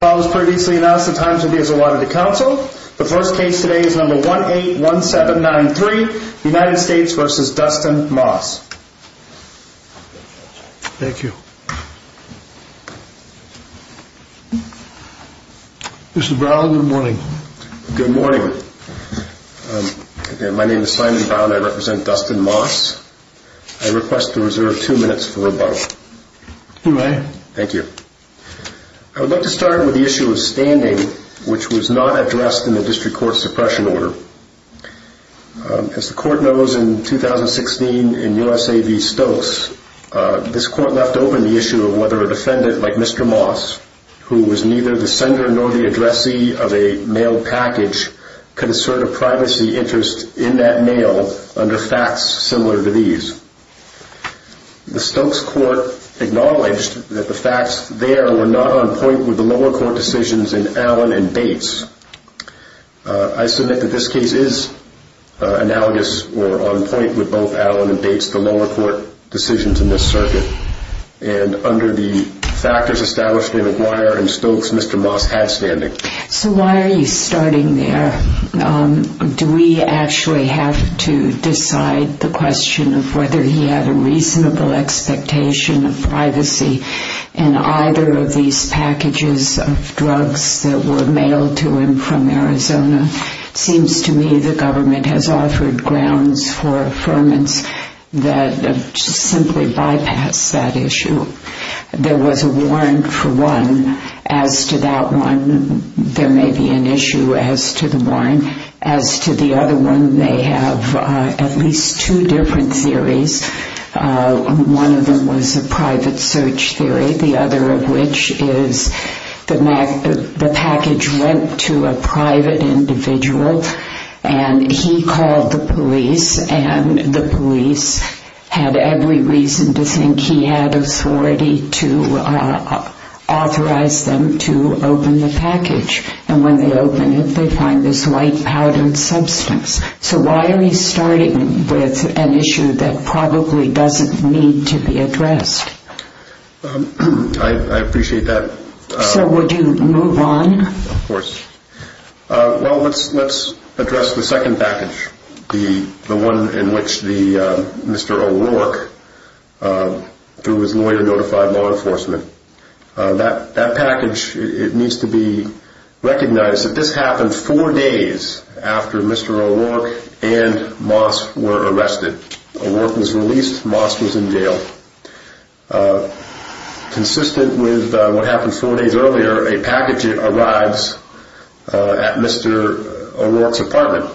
Thank you. Mr. Brown, good morning. Good morning. My name is Simon Brown. I represent Dustin Moss. I request to reserve two minutes for rebuttal. You may. Thank you. I would like to start with the issue of standing, which was not addressed in the district court suppression order. As the court knows, in 2016, in U.S.A. v. Stokes, this court left open the issue of whether a defendant like Mr. Moss, who was neither the sender nor the addressee of a mail package, could assert a privacy interest in that mail under facts similar to these. The Stokes court acknowledged that the facts there were not on point with the lower court decisions in Allen v. Bates. I submit that this case is analogous or on point with both Allen v. Bates, the lower court decisions in this circuit, and under the factors established in McGuire v. Stokes, Mr. Moss had standing. So why are you starting there? Do we actually have to decide the question of whether he had a reasonable expectation of privacy in either of these packages of drugs that were mailed to him from Arizona? It seems to me the government has offered grounds for affirmance that simply bypass that issue. There was a warrant for one. As to that one, there may be an issue as to the warrant. As to the other one, they have at least two different theories. One of them was a private search theory. The other of which is the package went to a private individual, and he called the police, and the police had every reason to think he had authority to authorize them to open the package. And when they open it, they find this light powdered substance. So why are we starting with an issue that probably doesn't need to be addressed? I appreciate that. So would you move on? Of course. Well, let's address the second package, the one in which Mr. O'Rourke, through his lawyer, notified law enforcement. That package, it needs to be recognized that this happened four days after Mr. O'Rourke and Moss were arrested. O'Rourke was released, Moss was in jail. Consistent with what happened four days earlier, a package arrives at Mr. O'Rourke's apartment.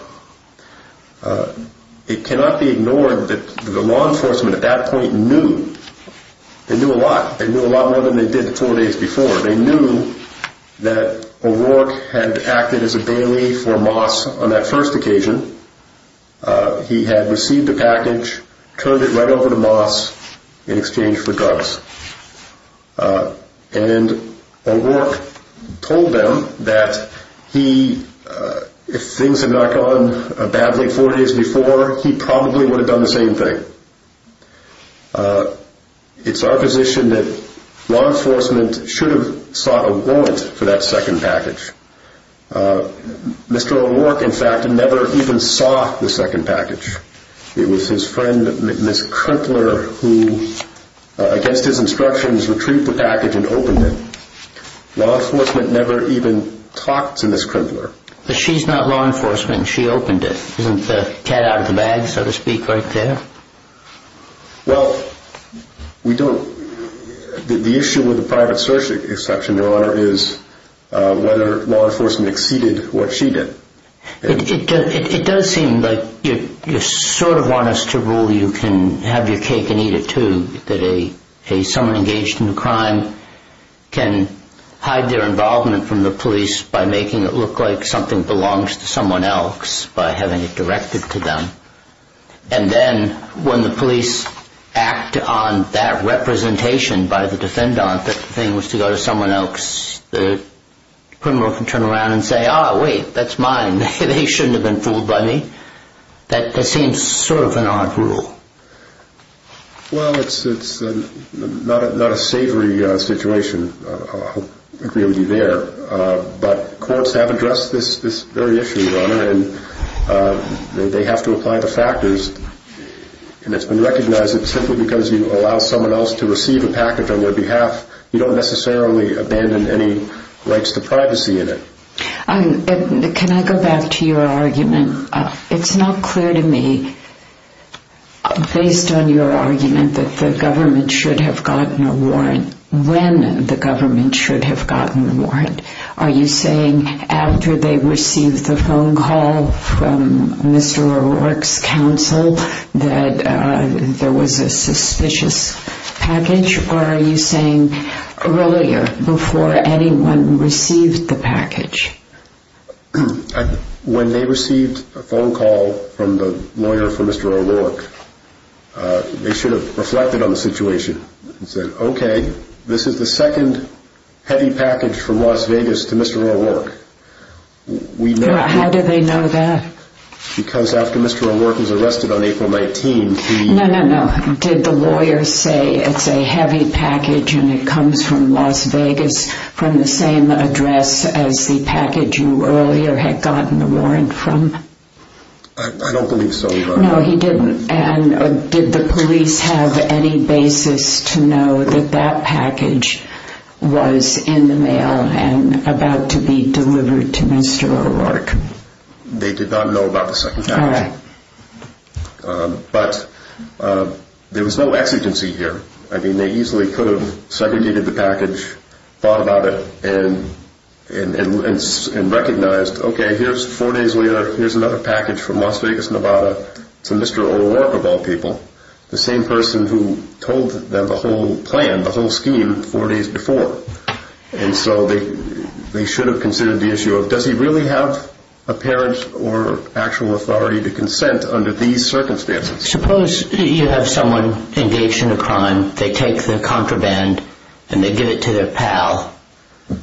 It cannot be ignored that the law enforcement at that point knew. They knew a lot. They knew a lot more than they did four days before. They knew that O'Rourke had acted as a bailiff for Moss on that first occasion. He had received the package, turned it right over to Moss in exchange for drugs. And O'Rourke told them that he, if things had not gone badly four days before, he probably would have done the same thing. It's our position that law enforcement should have sought a warrant for that second package. Mr. O'Rourke, in fact, never even saw the second package. It was his friend, Ms. Krimpler, who, against his instructions, retrieved the package and opened it. Law enforcement never even talked to Ms. Krimpler. But she's not law enforcement and she opened it. Isn't the cat out of the bag, so to speak, right there? Well, we don't, the issue with the private search exception, Your Honor, is whether law enforcement exceeded what she did. It does seem like you sort of want us to rule you can have your cake and eat it, too, that a someone engaged in a crime can hide their involvement from the police by making it look like something belongs to someone else by having it directed to them. And then when the police act on that representation by the defendant, that the thing was to go to someone else, the criminal can turn around and say, ah, wait, that's mine. They shouldn't have been fooled by me. That seems sort of an odd rule. Well, it's not a savory situation. I agree with you there. But courts have addressed this very issue, Your Honor, and they have to apply the factors. And it's been recognized that simply because you allow someone else to receive a package on their behalf, you don't necessarily abandon any rights to privacy in it. Can I go back to your argument? It's not clear to me, based on your argument that the government should have gotten a warrant, when the government should have gotten a warrant. Are you saying after they received the phone call from Mr. O'Rourke's counsel that there was a suspicious package? Or are you saying earlier, before anyone received the package? When they received a phone call from the lawyer for Mr. O'Rourke, they should have reflected on the situation and said, okay, this is the second heavy package from Las Vegas to Mr. O'Rourke. How do they know that? Because after Mr. O'Rourke was arrested on April 19th, he... No, no, no. Did the lawyer say it's a heavy package and it comes from Las Vegas from the same address as the package you earlier had gotten the warrant from? I don't believe the police have any basis to know that that package was in the mail and about to be delivered to Mr. O'Rourke. They did not know about the second package. All right. But there was no exigency here. I mean, they easily could have segregated the package, thought about it and recognized, okay, here's four days later, here's another package from Las Vegas, Nevada to Mr. O'Rourke of all people, the same person who told them the whole plan, the whole scheme four days before. And so they should have considered the issue of does he really have a parent or actual authority to consent under these circumstances? Suppose you have someone engaged in a crime, they take the contraband and they give it to their pal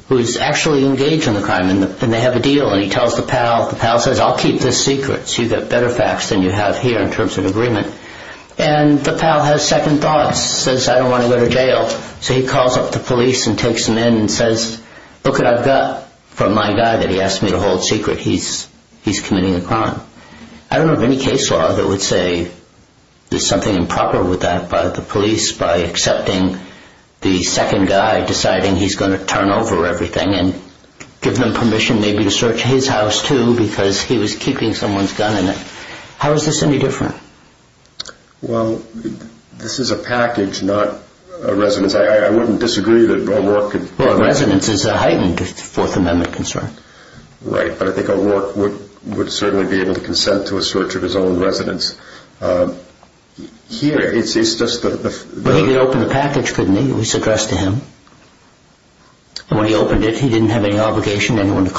who's actually engaged in the crime and they have a deal and he tells the pal, the pal says, I'll keep this secret so you get better facts than you have here in terms of agreement. And the pal has second thoughts, says, I don't want to go to jail. So he calls up the police and takes them in and says, look what I've got from my guy that he asked me to hold secret. He's committing a crime. I don't know of any case law that would say there's something improper with that by the police, by accepting the second guy, deciding he's going to turn over everything and give them permission maybe to search his house too because he was keeping someone's gun in it. How is this any different? Well, this is a package, not a residence. I wouldn't disagree that O'Rourke could... Well, a residence is a heightened Fourth Amendment concern. Right, but I think O'Rourke would certainly be able to consent to a search of his own residence. Here, it's just the... He could open the package, couldn't he? It was addressed to him. And when he opened it, he didn't have any obligation to anyone to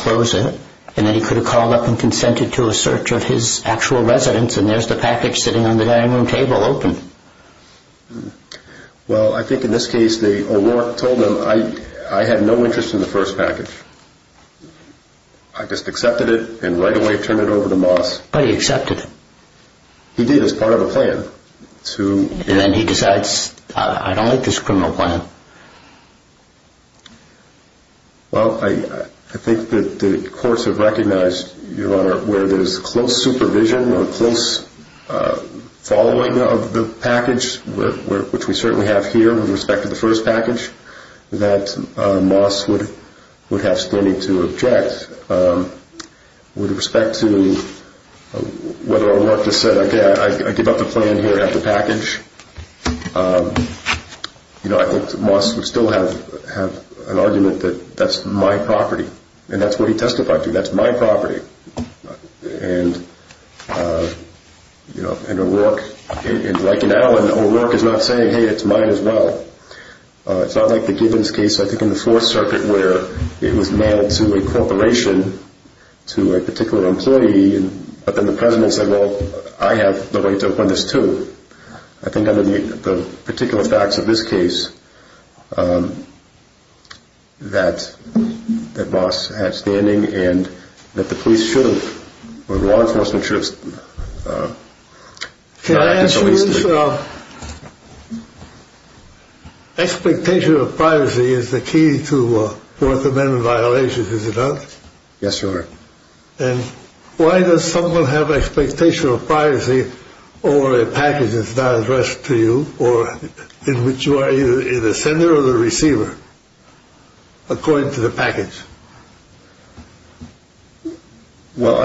call up and consent to a search of his actual residence and there's the package sitting on the dining room table open. Well, I think in this case, O'Rourke told him I had no interest in the first package. I just accepted it and right away turned it over to Moss. But he accepted it. He did as part of a plan to... And then he decides, I don't like this criminal plan. Well, I think that the courts have recognized, Your Honor, where there's close supervision or close following of the package, which we certainly have here with respect to the first package, that Moss would have standing to object with respect to whether or not to call in here and have the package. I think Moss would still have an argument that that's my property. And that's what he testified to. That's my property. And O'Rourke, like in Adeline, O'Rourke is not saying, hey, it's mine as well. It's not like the Gibbons case I think in the Fourth Circuit where it was mailed to a corporation, to a particular employee, but then the president said, well, I have the right to open this too. I think under the particular facts of this case, that Moss had standing and that the police should have, or law enforcement should have... Can I answer this? Expectation of privacy is the only thing that I can say. Why does someone have an expectation of privacy over a package that's not addressed to you or in which you are either the sender or the receiver, according to the package? Well,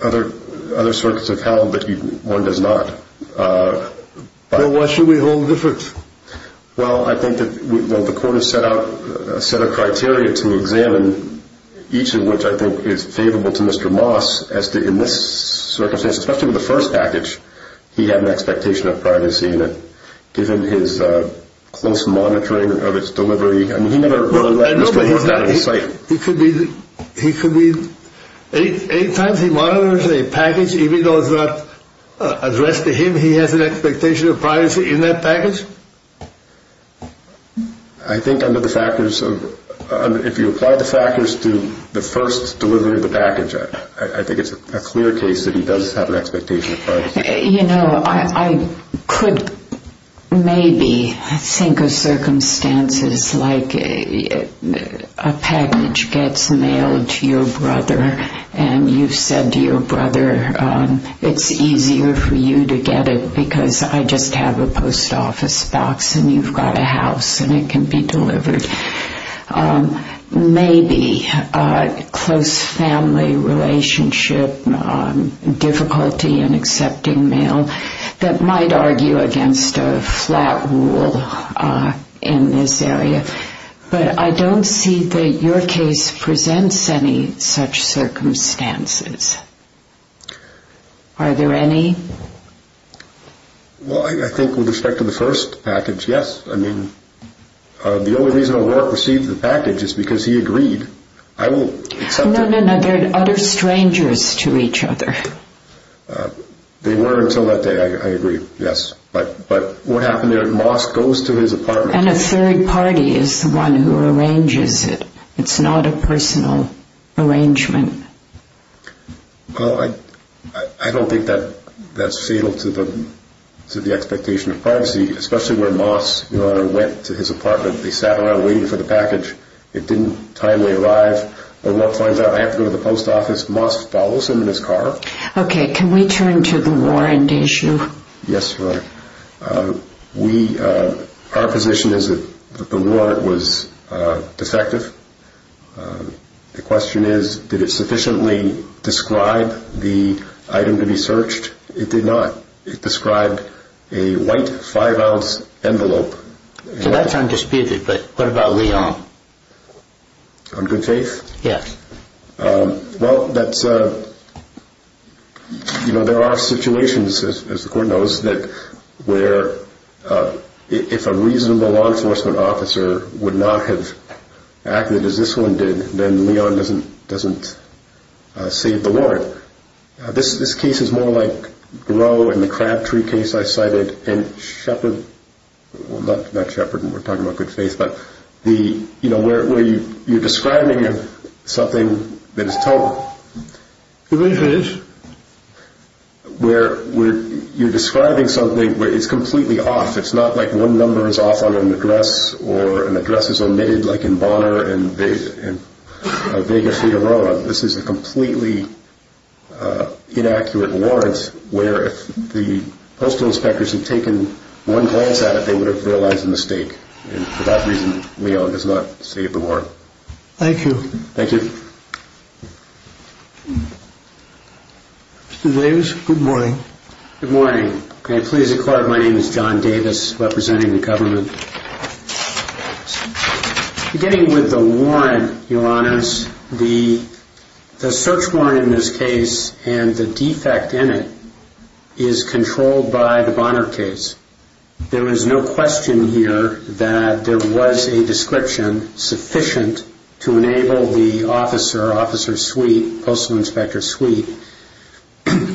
other circuits have held that one does not. Well, why should we hold different? Well, I think that the court has set out a set of criteria to examine, each of which I think is favorable to Mr. Moss as to, in this circumstance, especially with the first package, he had an expectation of privacy and given his close monitoring of its delivery, I mean, he never really let Mr. Moss out of his sight. He could be, any time he monitors a package, even though it's not addressed to him, he has an expectation of privacy in that package? I think under the factors of, if you apply the factors to the first delivery of the package, I think it's a clear case that he does have an expectation of privacy. You know, I could maybe think of circumstances like a package gets mailed to your brother and you've said to your brother, it's easier for you to get it because I just have a post office box and you've got a house and it can be delivered. Maybe a close family relationship, difficulty in accepting mail, that might argue against a flat rule in this area, but I don't see that your case presents any such circumstances. Are there any? Well, I think with respect to the first package, yes. I mean, the only reason O'Rourke received the package is because he agreed. I will... No, no, no, they're utter strangers to each other. They were until that day, I agree, yes. But what happened there, Moss goes to his apartment... And a third party is the one who arranges it. It's not a personal arrangement. Well, I don't think that's fatal to the expectation of privacy, especially where Moss, Your Honor, went to his apartment. They sat around waiting for the package. It didn't timely arrive. O'Rourke finds out, I have to go to the post office. Moss follows him in his car. Okay, can we turn to the warrant issue? Yes, Your Honor. Our position is that the warrant was sufficiently described the item to be searched. It did not. It described a white five ounce envelope. So that's undisputed, but what about Leon? On good faith? Yes. Well, that's... You know, there are situations, as the court knows, that where if a reasonable law enforcement officer would not have acted as this one did, then Leon doesn't save the warrant. This case is more like Gros and the Crabtree case I cited, and Shepard... Well, not Shepard, we're talking about good faith, but where you're describing something that is total. Good faith. Where you're describing something where it's completely off. It's not like one number is off on an address, or an address is omitted, like in Bonner and Vega Frida Roma. This is a completely inaccurate warrant, where if the postal inspectors had taken one glance at it, they would have realized a mistake. And for that reason, Leon does not save the warrant. Thank you. Thank you. Mr. Davis, good morning. Good morning. May I please inquire, my name is John Davis, representing the government. Beginning with the warrant, Your Honors, the search warrant in this case, and the defect in it, is controlled by the Bonner case. There is no question here that there was a description sufficient to enable the officer, Officer Sweet, Postal Inspector Sweet,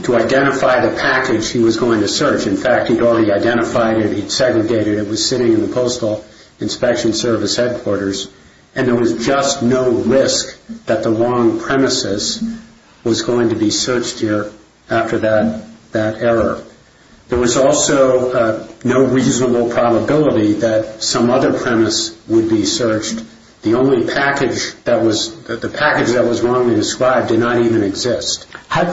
to identify the package he was going to search. In fact, he'd already identified it, he'd segregated it, it was sitting in the Postal Inspection Service headquarters, and there was just no risk that the wrong premises was going to be searched here after that error. There was also no reasonable probability that some other premise would be searched. The only package that was, the package that was wrongly described did not even exist.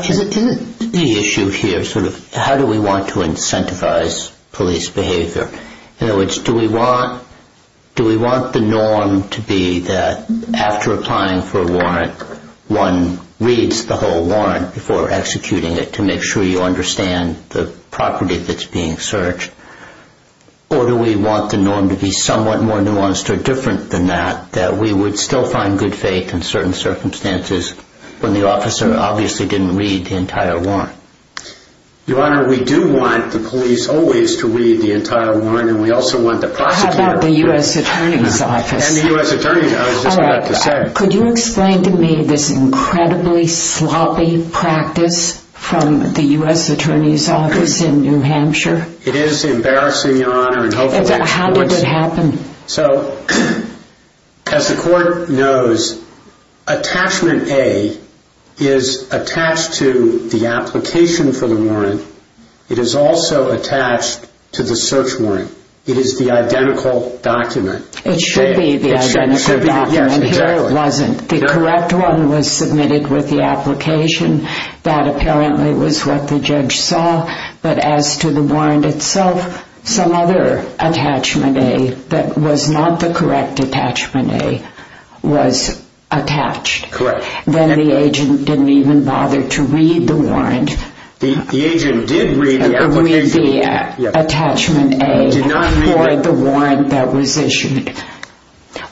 Is it the issue here, sort of, how do we want to incentivize police behavior? In other words, do we want the norm to be that after applying for a warrant, one reads the whole warrant before executing it to make sure you understand the property that's being searched? Or do we want the norm to be somewhat more nuanced or different than that, that we would still find good faith in certain circumstances when the officer obviously didn't read the entire warrant? Your Honor, we do want the police always to read the entire warrant, and we also want the prosecutor... How about the U.S. Attorney's Office? And the U.S. Attorney's, I was just about to say. Could you explain to me this incredibly sloppy practice from the U.S. Attorney's Office in New Hampshire? It is embarrassing Your Honor. How did it happen? So, as the Court knows, attachment A is attached to the application for the warrant. It is also attached to the search warrant. It is the identical document. It should be the identical document. Here it wasn't. The correct one was submitted with the application. That apparently was what the judge saw, but as to the warrant itself, some other attachment A that was not the correct attachment A was attached. Then the agent didn't even bother to read the warrant. The agent did read the application. Read the attachment A for the warrant that was issued.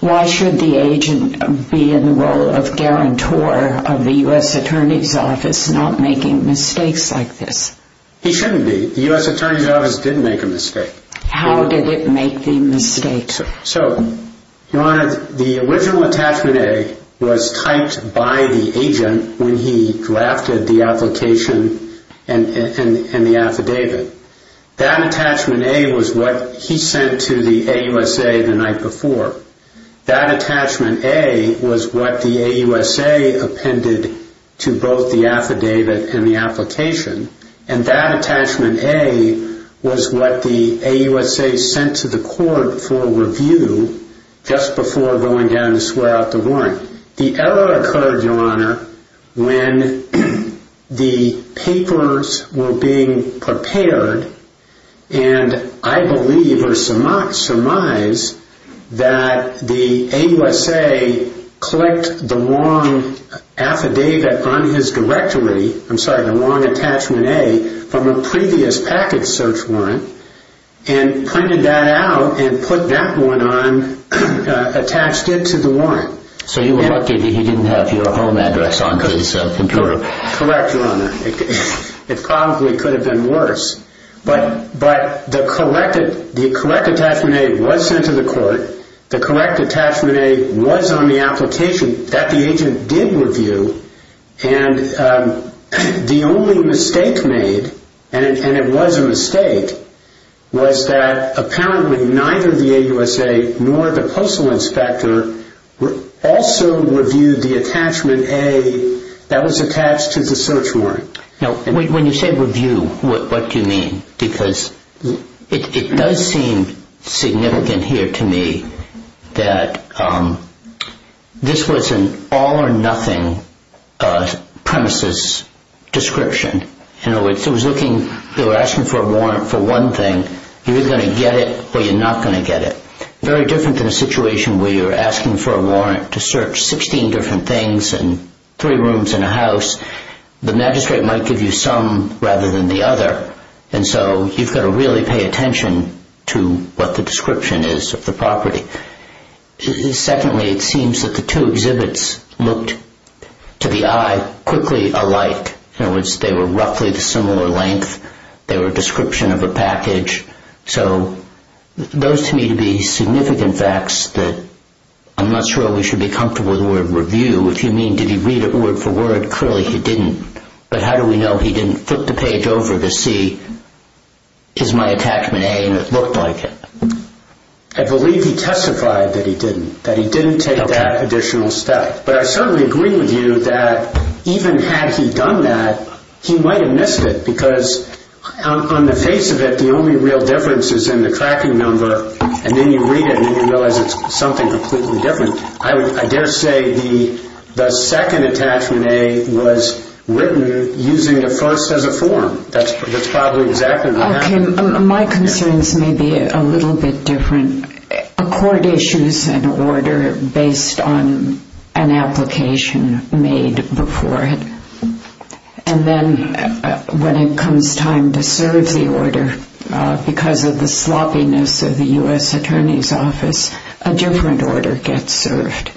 Why should the agent be in the role of guarantor of the U.S. Attorney's Office not making mistakes like this? He shouldn't be. The U.S. Attorney's Office did make a mistake. How did it make the mistake? So, Your Honor, the original attachment A was typed by the agent when he drafted the application and the affidavit. That attachment A was what he sent to the AUSA the night before. That attachment A was what the AUSA appended to both the affidavit and the application. That attachment A was what the AUSA sent to the court for review just before going down to swear out the warrant. The error occurred, Your Honor, when the papers were being prepared and I believe or surmise that the AUSA clicked the wrong affidavit on his directory, I'm sorry, the wrong attachment A from a previous package search warrant and printed that out and put that one on, attached it to the warrant. So you were lucky he didn't have your home address on his computer. Correct, Your Honor. It probably could have been worse. But the correct attachment A was sent to the court. The correct attachment A was on the application that the agent did review and the only mistake made, and it was a mistake, was that apparently neither the AUSA nor the postal inspector also reviewed the attachment A that was attached to the search warrant. When you say review, what do you mean? Because it does seem significant here to me that this was an all or nothing premises description. They were asking for a warrant for one thing. You're either going to get it or you're not going to get it. Very different than a situation where you're asking for a warrant to search 16 different things and three rooms in a house. The magistrate might give you some rather than the other, and so you've got to really pay attention to what the description is of the property. Secondly, it seems that the two exhibits looked to the eye quickly alike. In other words, they were roughly the similar length. They were a description of a package. So those to me to be significant facts that I'm not sure we should be comfortable with the word review. If you mean did he read it word for word, clearly he didn't. But how do we know he didn't flip the page over to see, is my attachment A and it looked like it? I believe he testified that he didn't. That he didn't take that additional step. But I certainly agree with you that even had he done that, he might have missed it because on the face of it, the only real difference is in the tracking number, and then you read it and then you realize it's something completely different. I dare say the second attachment A was written using the first as a form. That's probably exactly what happened. My concerns may be a little bit different. A court issues an order based on an application made before it, and then when it comes time to serve the order, because of the sloppiness of the U.S. Attorney's Office, a different order gets served.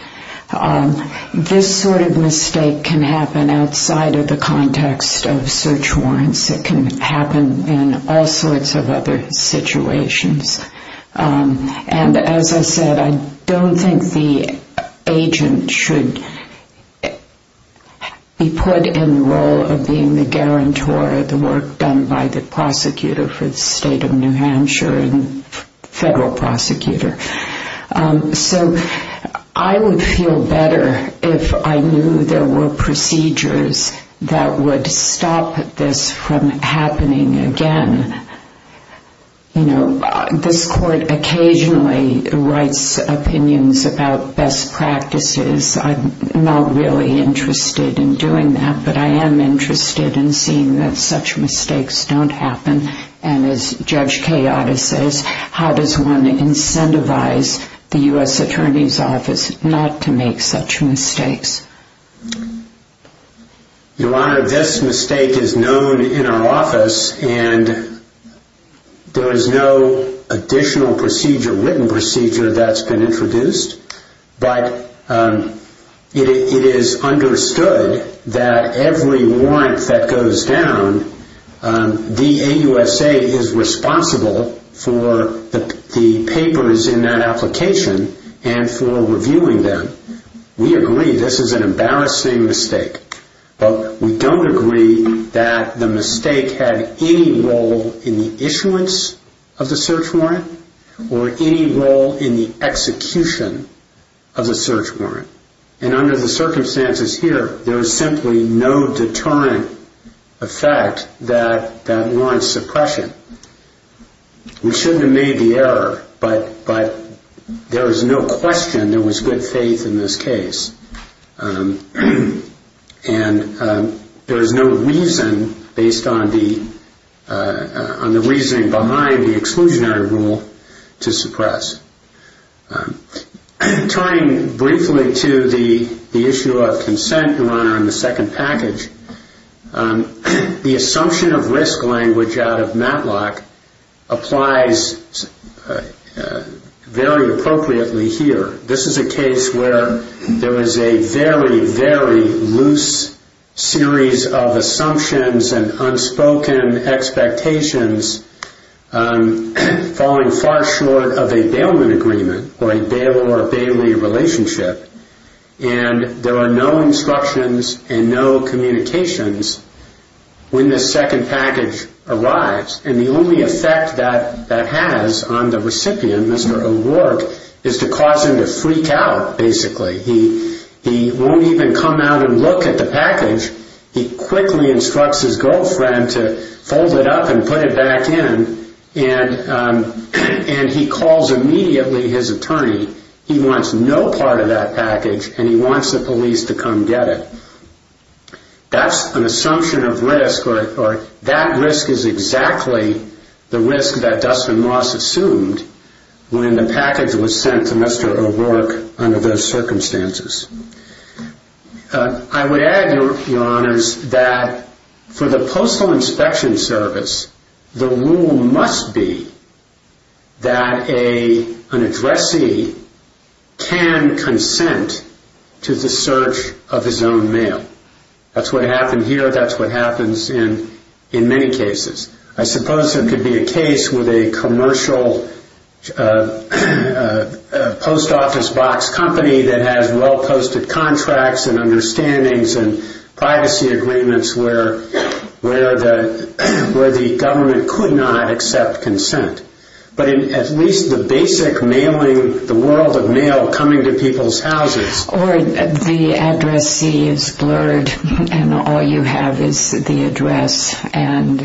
This sort of mistake can happen outside of the context of search warrants. It can happen in all sorts of other situations. And as I said, I don't think the agent should be put in the role of being the guarantor of the work done by the prosecutor for the state of New Hampshire and federal prosecutor. So I would feel better if I knew there were procedures that would stop this from happening again. You know, this court occasionally writes opinions about best practices. I'm not really interested in doing that, but I am interested in seeing that such mistakes don't happen. And as Judge Kayada says, how does one incentivize the U.S. Attorney's Office not to make such mistakes? Your Honor, this mistake is known in our office, and there is no additional procedure, written procedure, that's been introduced. But it is understood that every warrant that goes down, the AUSA is responsible for the papers in that application and for reviewing them. We agree this is an embarrassing mistake, but we don't agree that the mistake had any role in the issuance of the search warrant or any role in the execution of the search warrant. And under the circumstances here, there is simply no deterrent effect that that warrant suppression. We shouldn't have made the error, but there is no question there was good faith in this case. And there is no reason, based on the reasoning behind the exclusionary rule, to suppress. Tying briefly to the issue of consent, Your Honor, in the second package, this is a case where there is a very, very loose series of assumptions and unspoken expectations, falling far short of a bailment agreement or a bail or bailee relationship. And there are no instructions and no communications when this second package arrives. And the only effect that that has on the recipient, Mr. O'Rourke, is to cause him to freak out, basically. He won't even come out and look at the package. He quickly instructs his girlfriend to fold it up and put it back in. And he calls immediately his attorney. He wants no part of that package, and he wants the police to assumed when the package was sent to Mr. O'Rourke under those circumstances. I would add, Your Honors, that for the Postal Inspection Service, the rule must be that an addressee can consent to the search of his own mail. That's what happened here. That's what happens in many cases. I suppose there could be a case with a commercial post office box company that has well-posted contracts and understandings and privacy agreements where the government could not accept consent. But at least the basic mailing, the world of mail coming to people's houses. Or the addressee is blurred, and all you have is the address. And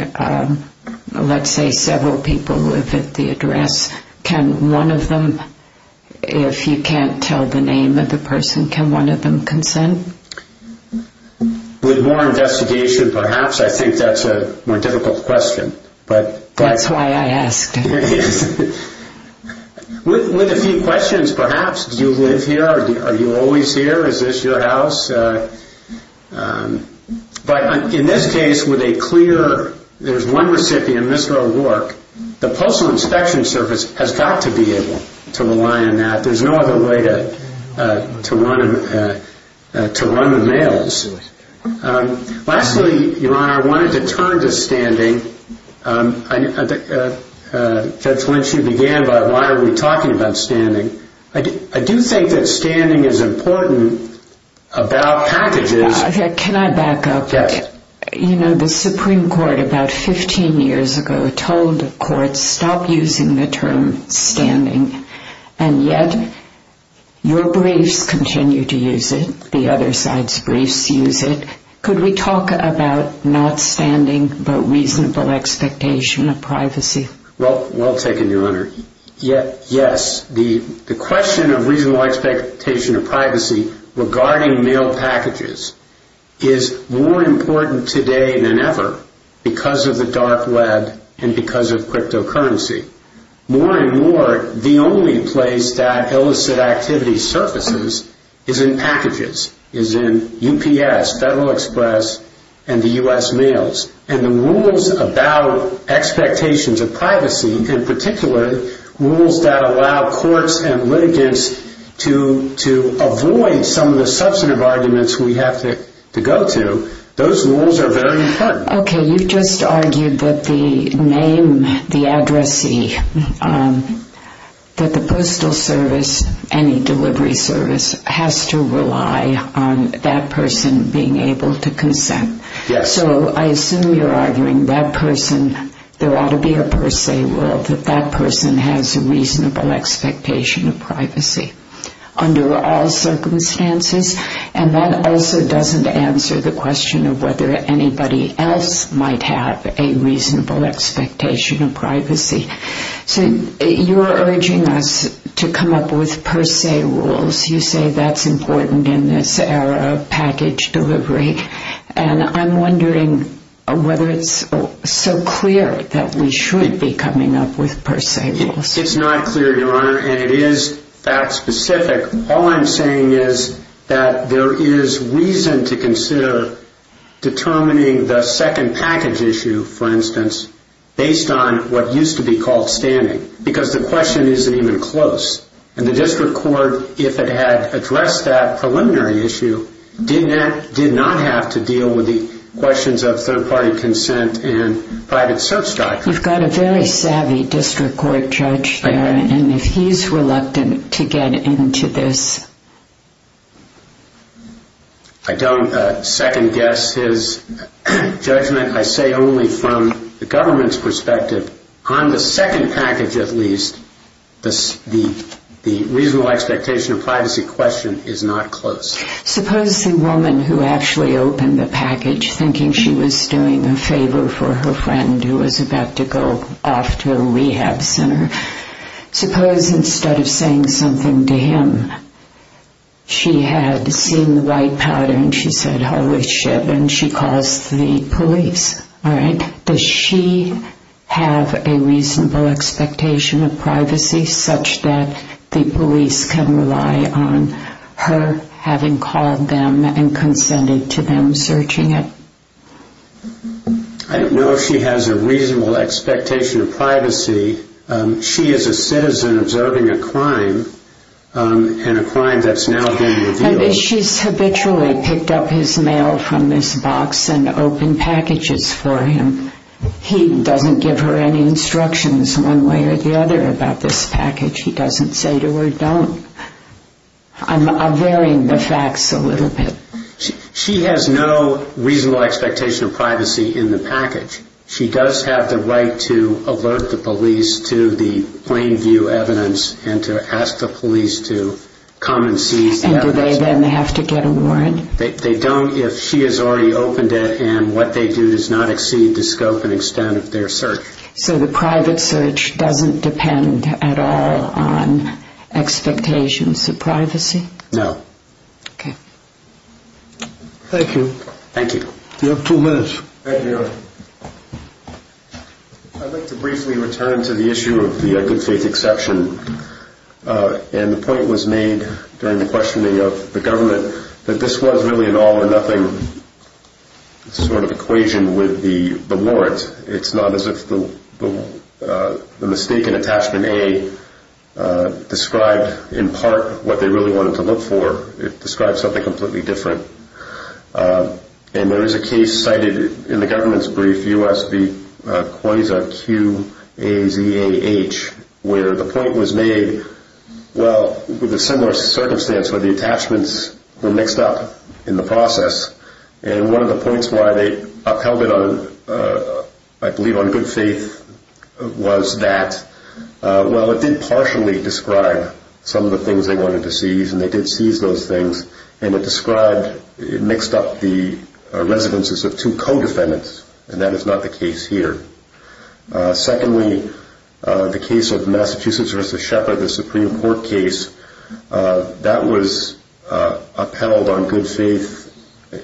let's say several people live at the address. Can one of them, if you can't tell the name of the person, can one of them consent? With more investigation, perhaps. I think that's a more difficult question. That's why I asked. With a few questions, perhaps. Do you live here? Are you always here? Is this your house? But in this case, with a clear, there's one recipient, Mr. O'Rourke, the Postal Inspection Service has got to be able to rely on that. There's no other way to run the mails. Lastly, Your Honor, I wanted to turn to standing. Judge Lynch, you began by why are we talking about standing? I do think that standing is important about packages. Can I back up? Yes. You know, the Supreme Court about 15 years ago told courts stop using the term standing. And yet, your side's briefs use it. Could we talk about not standing but reasonable expectation of privacy? Well taken, Your Honor. Yes. The question of reasonable expectation of privacy regarding mail packages is more important today than ever because of the dark web and because of cryptocurrency. More and more, the UPS, Federal Express, and the U.S. Mails. And the rules about expectations of privacy, in particular, rules that allow courts and litigants to avoid some of the substantive arguments we have to go to, those rules are very important. Okay. You've just argued that the name, the addressee, that the Postal Service, any delivery service, has to rely on that person being able to consent. Yes. So I assume you're arguing that person, there ought to be a per se rule that that person has a reasonable expectation of privacy under all circumstances. And that also doesn't answer the question of whether anybody else might have a reasonable expectation of privacy. So you're urging us to come up with per se rules. You say that's important in this era of package delivery. And I'm wondering whether it's so clear that we should be coming up with per se rules. It's not clear, Your Honor. And it is fact specific. All I'm saying is that there is reason to consider determining the second package issue, for instance, based on what used to be called standing. Because the preliminary issue did not have to deal with the questions of third party consent and private search doctrine. You've got a very savvy district court judge there. And if he's reluctant to get into this. I don't second guess his judgment. I say only from the government's perspective, on the second package at least, the reasonable expectation of privacy question is not close. Suppose a woman who actually opened the package thinking she was doing a favor for her friend who was about to go off to a rehab center, suppose instead of saying something to him, she had seen the white powder and she said, all right, does she have a reasonable expectation of privacy such that the police can rely on her having called them and consented to them searching it? I don't know if she has a reasonable expectation of privacy. She is a citizen observing a crime, and a crime that's now being revealed. She's habitually picked up his mail from this box and opened packages for him. He doesn't give her any instructions one way or the other about this package. He doesn't say to her, don't. I'm varying the facts a little bit. She has no reasonable expectation of privacy in the package. She does have the right to alert the police to the plain view evidence and to ask the police to come and seize the evidence. And do they then have to get a warrant? They don't if she has already opened it and what they do does not exceed the scope and extent of their search. So the private search doesn't depend at all on expectations of privacy? No. Okay. Thank you. You have two minutes. Thank you, Your Honor. I'd like to briefly return to the issue of the good faith exception. And the point was made during the questioning of the government that this was really an all or nothing sort of equation with the warrant. It's not as if the mistake in attachment A described in part what they really wanted to look for. It describes something completely different. And there is a case cited in the government's brief, U.S. v. Coyza, Q.A.Z.A.H., where the point was made, well, with a similar circumstance where the attachments were mixed up in the process. And one of the points why they upheld it on, I believe, on good faith was that, well, it did partially describe some of the things they wanted to seize, and they did seize those things. And it described, it mixed up the residences of two co-defendants, and that is not the case here. Secondly, the case of Massachusetts v. Shepard, the Supreme Court case, that was upheld on good faith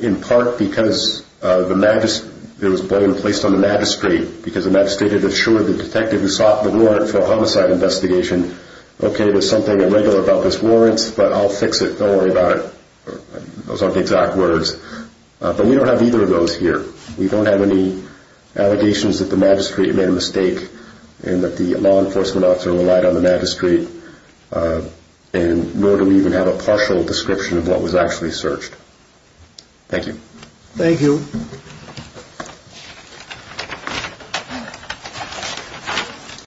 in part because it was placed on the magistrate because the magistrate had assured the detective who sought the warrant for a homicide investigation, okay, there's something irregular about this warrant, but I'll fix it, don't worry about it. Those aren't the exact words. But we don't have either of those here. We don't have any allegations that the magistrate made a mistake and that the law enforcement officer relied on the magistrate, nor do we even have a partial description of what was actually searched. Thank you. Thank you.